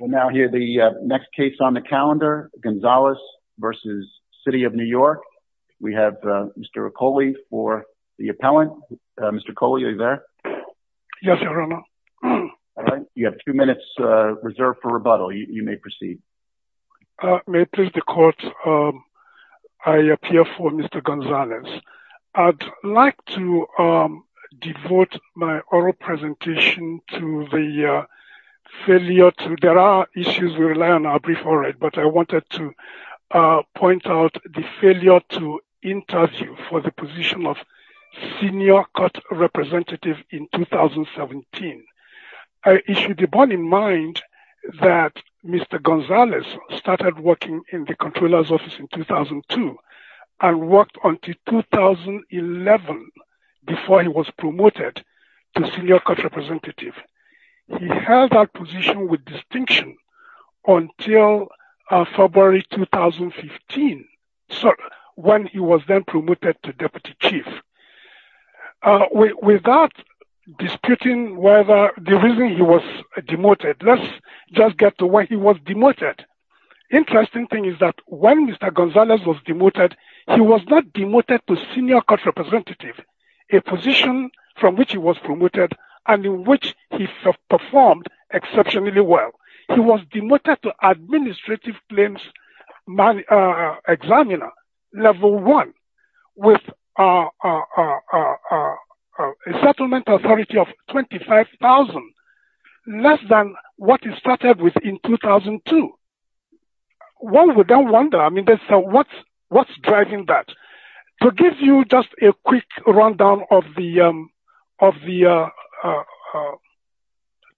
We'll now hear the next case on the calendar, Gonzalez v. City of New York. We have Mr. Okole for the appellant. Mr. Okole, are you there? Yes, your honor. All right, you have two minutes reserved for rebuttal. You may proceed. May it please the court, I appear for Mr. Gonzalez. I'd like to devote my oral presentation to the failure to, there are issues we rely on, I'll brief all right, but I wanted to point out the failure to interview for the position of senior court representative in 2017. I issue the bond in mind that Mr. Gonzalez started working in the controller's office in 2002 and worked until 2011 before he was promoted to senior court representative. He held that position with distinction until February 2015 when he was then promoted to deputy chief. Without disputing whether the reason he was demoted, let's just get to why he was demoted. Interesting thing is that when Mr. Gonzalez was demoted, he was not demoted to senior court representative, a position from which he was promoted and in which he performed exceptionally well. He was demoted to administrative claims examiner level one with a settlement authority of 25,000, less than what he started with in 2002. One would then wonder, I mean, what's driving that? To give you just a quick rundown of the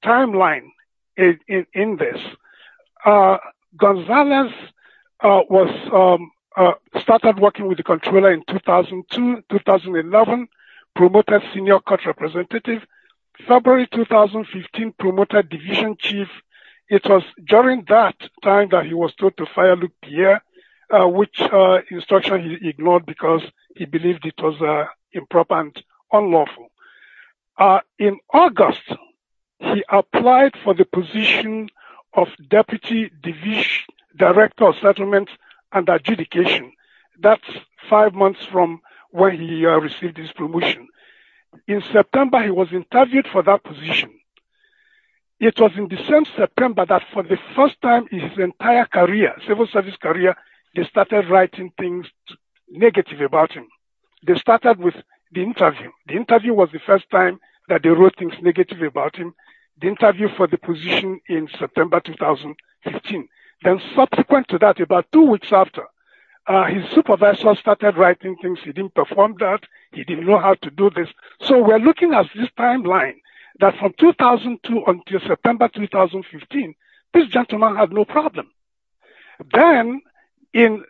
timeline in this, Gonzalez started working with the controller in 2002, 2011, promoted senior court representative. February 2015, promoted division chief. It was during that time that he was told to fire Luquier, which instruction he ignored because he believed it improper and unlawful. In August, he applied for the position of deputy division director of settlement and adjudication. That's five months from when he received his promotion. In September, he was interviewed for that position. It was in the same September that for the first time in his civil service career, they started writing things negative about him. They started with the interview. The interview was the first time that they wrote things negative about him. The interview for the position in September 2015. Then subsequent to that, about two weeks after, his supervisor started writing things. He didn't perform that. He didn't know how to do this. So we're looking at this timeline that from 2002 until September 2015, this gentleman had no problem. Then in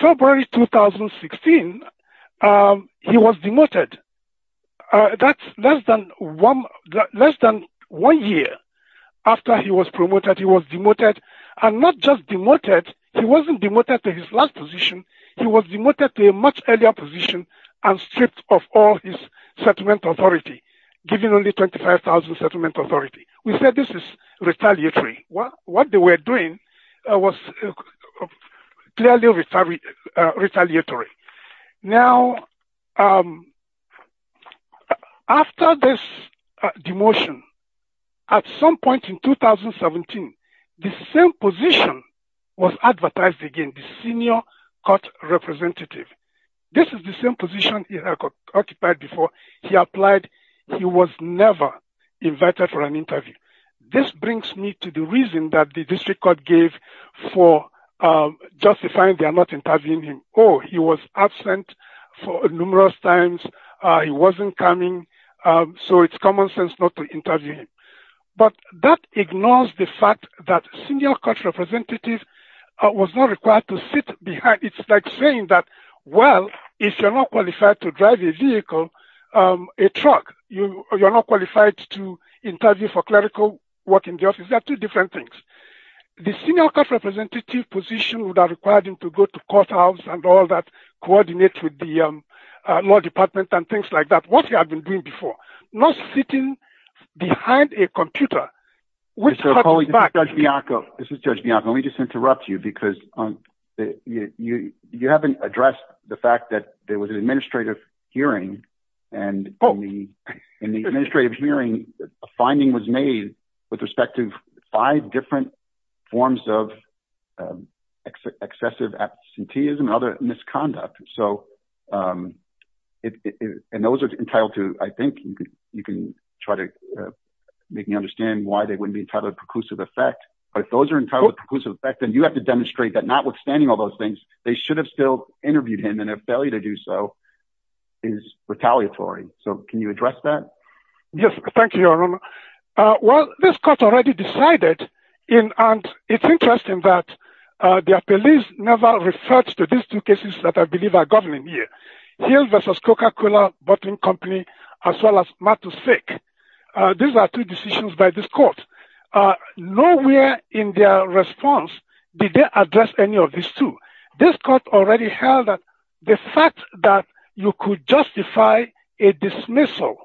February 2016, he was demoted. That's less than one year after he was promoted, he was demoted. And not just demoted, he wasn't demoted to his last position. He was demoted to a much earlier position and stripped of all his settlement authority, given only 25,000 settlement authority. We said this is retaliatory. What they were doing was clearly retaliatory. Now, after this demotion, at some point in 2017, the same position was advertised again, the senior court representative. This is the same position he had occupied before he applied. He was never invited for an interview. This brings me to the reason that the district court gave for justifying they are not interviewing him. Oh, he was absent for numerous times. He wasn't coming. So it's common sense not to interview him. But that ignores the fact that senior court representative was not required to sit behind. It's like saying that, well, if you're not qualified to drive a vehicle, a truck, you're not qualified to interview for clerical work in the office. There are two different things. The senior court representative position would have required him to go to courthouse and all that, coordinate with the law department and things like that. What he had been doing before, not sitting behind a computer, which comes back. Judge Bianco, this is Judge Bianco. Let me just interrupt you because you haven't addressed the fact that there was an administrative hearing and in the administrative hearing, a finding was made with respect to five different forms of excessive absenteeism and other misconduct. And those are entitled to, I think you can try to make me understand why they wouldn't be entitled to preclusive effect. But if those are entitled to preclusive effect, then you have to demonstrate that notwithstanding all those things, they should have still interviewed him. And if they fail to do so, it is retaliatory. So can you address that? Yes. Thank you, Your Honor. Well, this court already decided. And it's interesting that the appellees never referred to these two cases that I believe are governing here. Hill versus Coca-Cola bottling company, as well as Mattus-Fick. These are two did they address any of these two? This court already held that the fact that you could justify a dismissal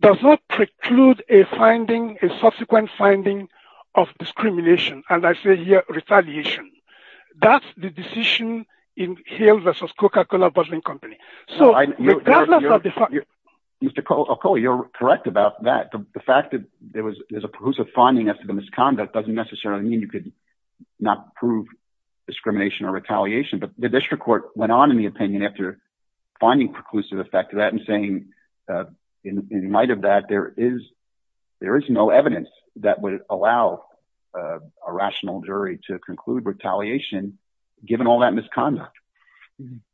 does not preclude a finding, a subsequent finding of discrimination. And I say here retaliation. That's the decision in Hill versus Coca-Cola bottling company. So Mr. Alcoli, you're correct about that. The fact that there was a finding as to the misconduct doesn't necessarily mean you could not prove discrimination or retaliation. But the district court went on in the opinion after finding preclusive effect to that and saying in light of that, there is no evidence that would allow a rational jury to conclude retaliation given all that misconduct.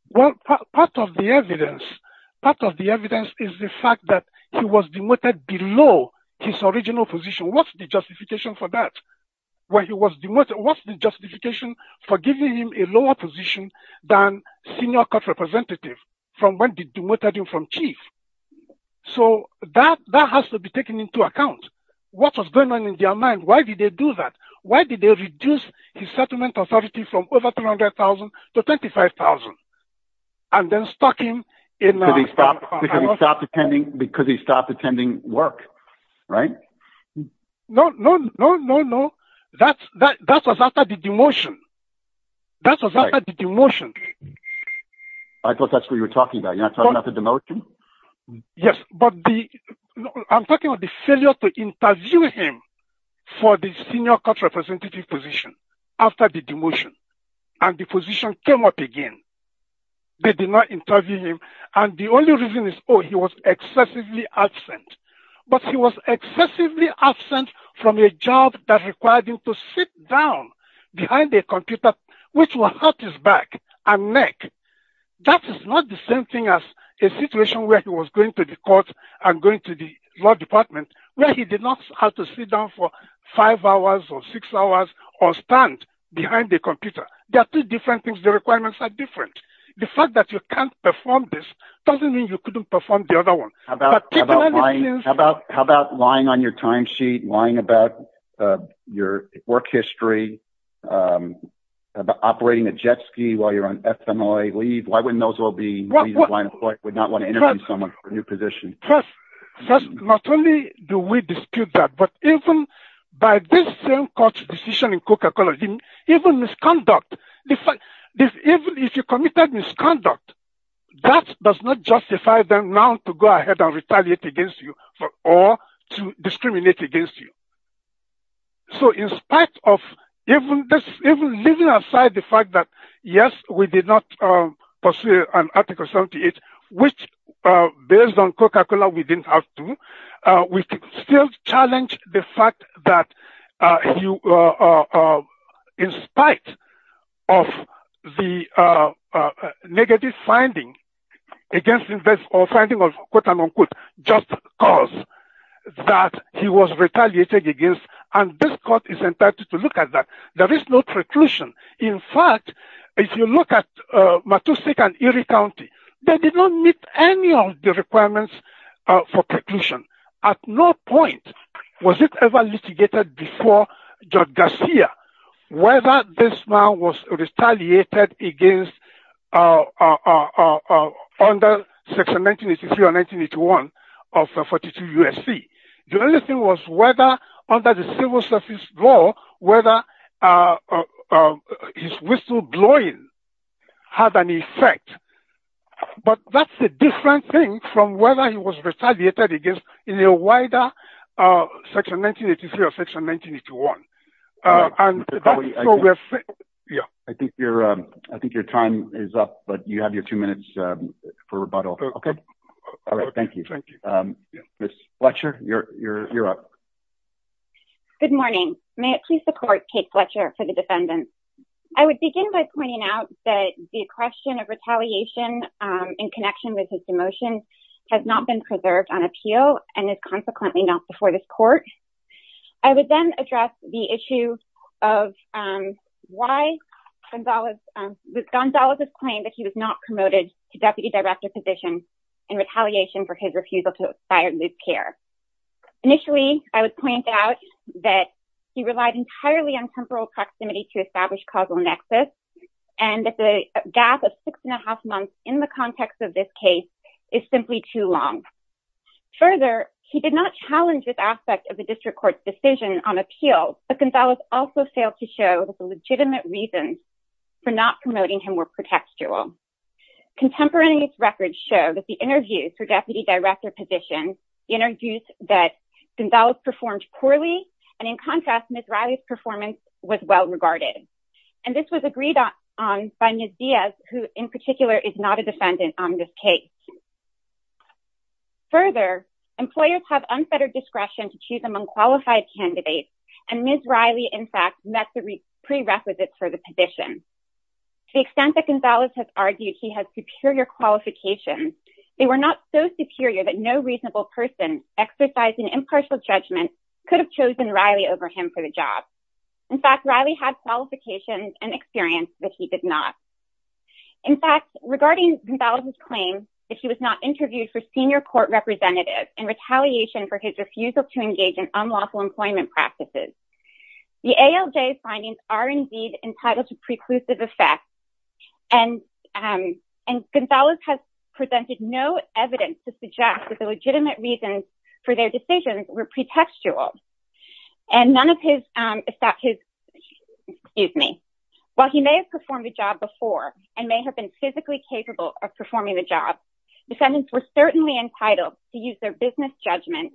Well, part of the evidence is the fact that he was demoted below his original position. What's the justification for that? What's the justification for giving him a lower position than senior court representative from when they demoted him from chief? So that has to be taken into account. What was going on in their mind? Why did they do that? Why did they reduce his settlement authority from over $300,000 to $25,000? And then stuck him in... Because he stopped attending work, right? No, no, no, no, no. That was after the demotion. That was after the demotion. I thought that's what you were talking about. You're not talking about the demotion? Yes, but I'm talking about the failure to interview him for the senior court representative position after the demotion. And the position came up again. They did not interview him. And only reason is, oh, he was excessively absent. But he was excessively absent from a job that required him to sit down behind a computer which was at his back and neck. That is not the same thing as a situation where he was going to the court and going to the law department where he did not have to sit down for five hours or six hours or stand behind the computer. There are different things. The requirements are different. The fact that you can't perform this doesn't mean you couldn't perform the other one. How about lying on your timesheet, lying about your work history, operating a jet ski while you're on FMLA leave? Why wouldn't those all be reasons why an employee would not want to interview someone for a new position? First, not only do we dispute that, but even by this same court's decision in Coca-Cola, even misconduct, even if you committed misconduct, that does not justify them now to go ahead and retaliate against you or to discriminate against you. So in spite of even leaving aside the fact that, yes, we did not pursue an Article 78, which, based on Coca-Cola, we didn't have to, we still challenge the fact that in spite of the negative finding against him or finding of quote-unquote just cause that he was retaliated against and this court is entitled to look at that. There is no preclusion. In fact, if you look at Matusik and Erie County, they did not meet any of the requirements for preclusion. At no point was it ever litigated before George Garcia whether this man was retaliated against under Section 1983 or 1981 of 42 U.S.C. The only thing was whether under the civil service law, whether his whistleblowing had an effect, but that's a different thing from whether he was retaliated against in a wider Section 1983 or Section 1981. I think your time is up, but you have your two minutes for rebuttal. Okay. All right. Thank you. Ms. Fletcher, you're up. Good morning. May it please the Court, Kate Fletcher for the defendants. I would begin by pointing out that the question of retaliation in connection with his demotion has not been preserved on appeal and is consequently not before this Court. I would then address the issue of why was Gonzalez's claim that he was not promoted to deputy director position in retaliation for his refusal to aspire to lose care. Initially, I would point out that he relied entirely on temporal proximity to establish causal nexus and that the gap of six and a half months in the context of this case is simply too long. Further, he did not challenge this aspect of the district court's decision on appeal, but Gonzalez also failed to show that the legitimate reasons for not promoting him were contextual. Contemporaneous records show that the interviews for deputy director positions introduced that Gonzalez performed poorly, and in contrast, Ms. Riley's performance was well regarded. And this was agreed on by Ms. Diaz, who in particular is not a defendant on this case. Further, employers have unfettered discretion to choose among qualified candidates, and Ms. Riley, in fact, met the prerequisites for the position. To the extent that Gonzalez has argued he has superior qualifications, they were not so superior that no reasonable person exercising impartial judgment could have chosen Riley over him for the job. In fact, Riley had qualifications and experience that he did not. In fact, regarding Gonzalez's claim that he was not interviewed for senior court representative in retaliation for his refusal to engage in unlawful employment practices, the ALJ findings are indeed entitled to preclusive effect, and Gonzalez has presented no evidence to suggest that the legitimate reasons for their decisions were pretextual. And none of his, excuse me, while he may have performed the job before, and may have been physically capable of performing the job, defendants were certainly entitled to business judgment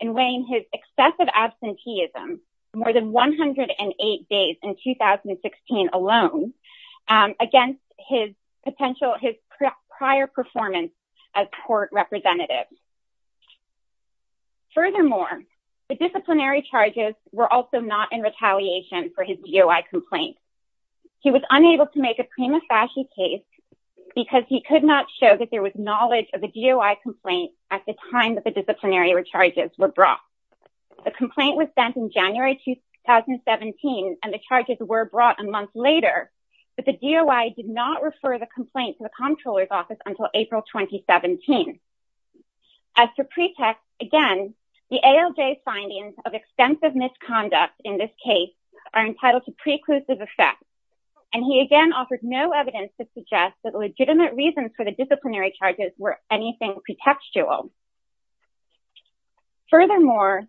in weighing his excessive absenteeism, more than 108 days in 2016 alone, against his potential, his prior performance as court representative. Furthermore, the disciplinary charges were also not in retaliation for his DOI complaint. He was unable to make a prima facie case because he could not show that there was knowledge of the disciplinary charges were brought. The complaint was sent in January 2017, and the charges were brought a month later, but the DOI did not refer the complaint to the comptroller's office until April 2017. As for pretext, again, the ALJ findings of extensive misconduct in this case are entitled to preclusive effect, and he again offered no evidence to suggest that Furthermore,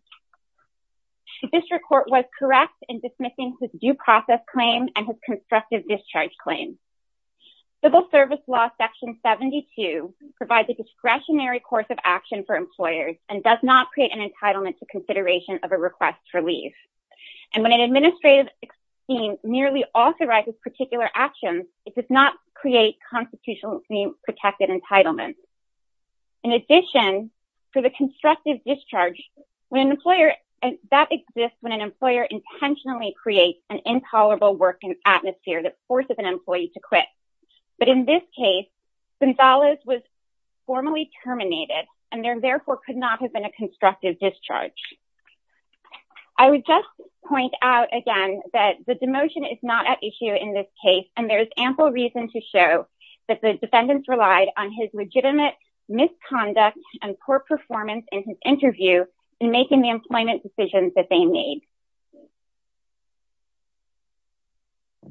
the district court was correct in dismissing his due process claim and his constructive discharge claim. Civil service law section 72 provides a discretionary course of action for employers, and does not create an entitlement to consideration of a request for leave. And when an administrative scheme merely authorizes particular actions, it does not create a constitutionally protected entitlement. In addition, for the constructive discharge, that exists when an employer intentionally creates an intolerable work atmosphere that forces an employee to quit. But in this case, Gonzalez was formally terminated, and there therefore could not have been a constructive discharge. I would just point out again that the demotion is not at issue in this case, and there is ample reason to show that the defendants relied on his legitimate misconduct and poor performance in his interview in making the employment decisions that they made.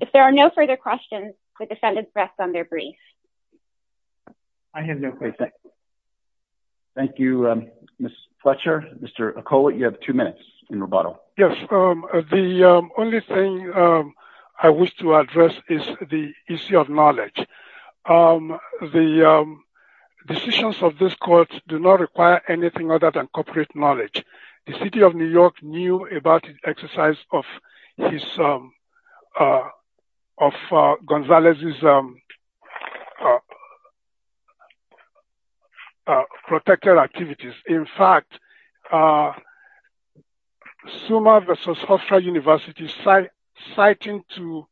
If there are no further questions, the defendants rest on their brief. I have no questions. Thank you, Ms. Fletcher. Mr. Okola, you have two minutes in rebuttal. The only thing I wish to address is the issue of knowledge. The decisions of this court do not require anything other than corporate knowledge. The City of New York knew about the exercise of the plaintiff. Summa versus Hofstra University citing to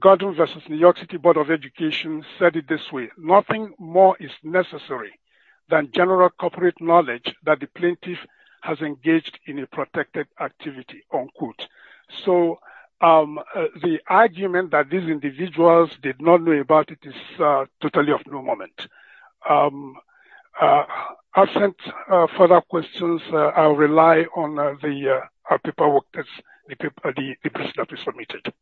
Gordon versus New York City Board of Education said it this way, nothing more is necessary than general corporate knowledge that the plaintiff has engaged in a protected activity, unquote. The argument that these individuals did not know about it is totally of no moment. I do not have further questions. I will rely on the paperwork that has been submitted.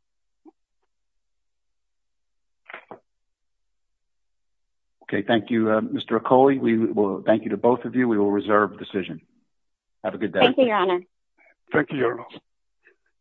Okay. Thank you, Mr. Okola. We will thank you to both of you. We will reserve the decision. Have a good day. Thank you, Your Honor. Thank you, Your Honor.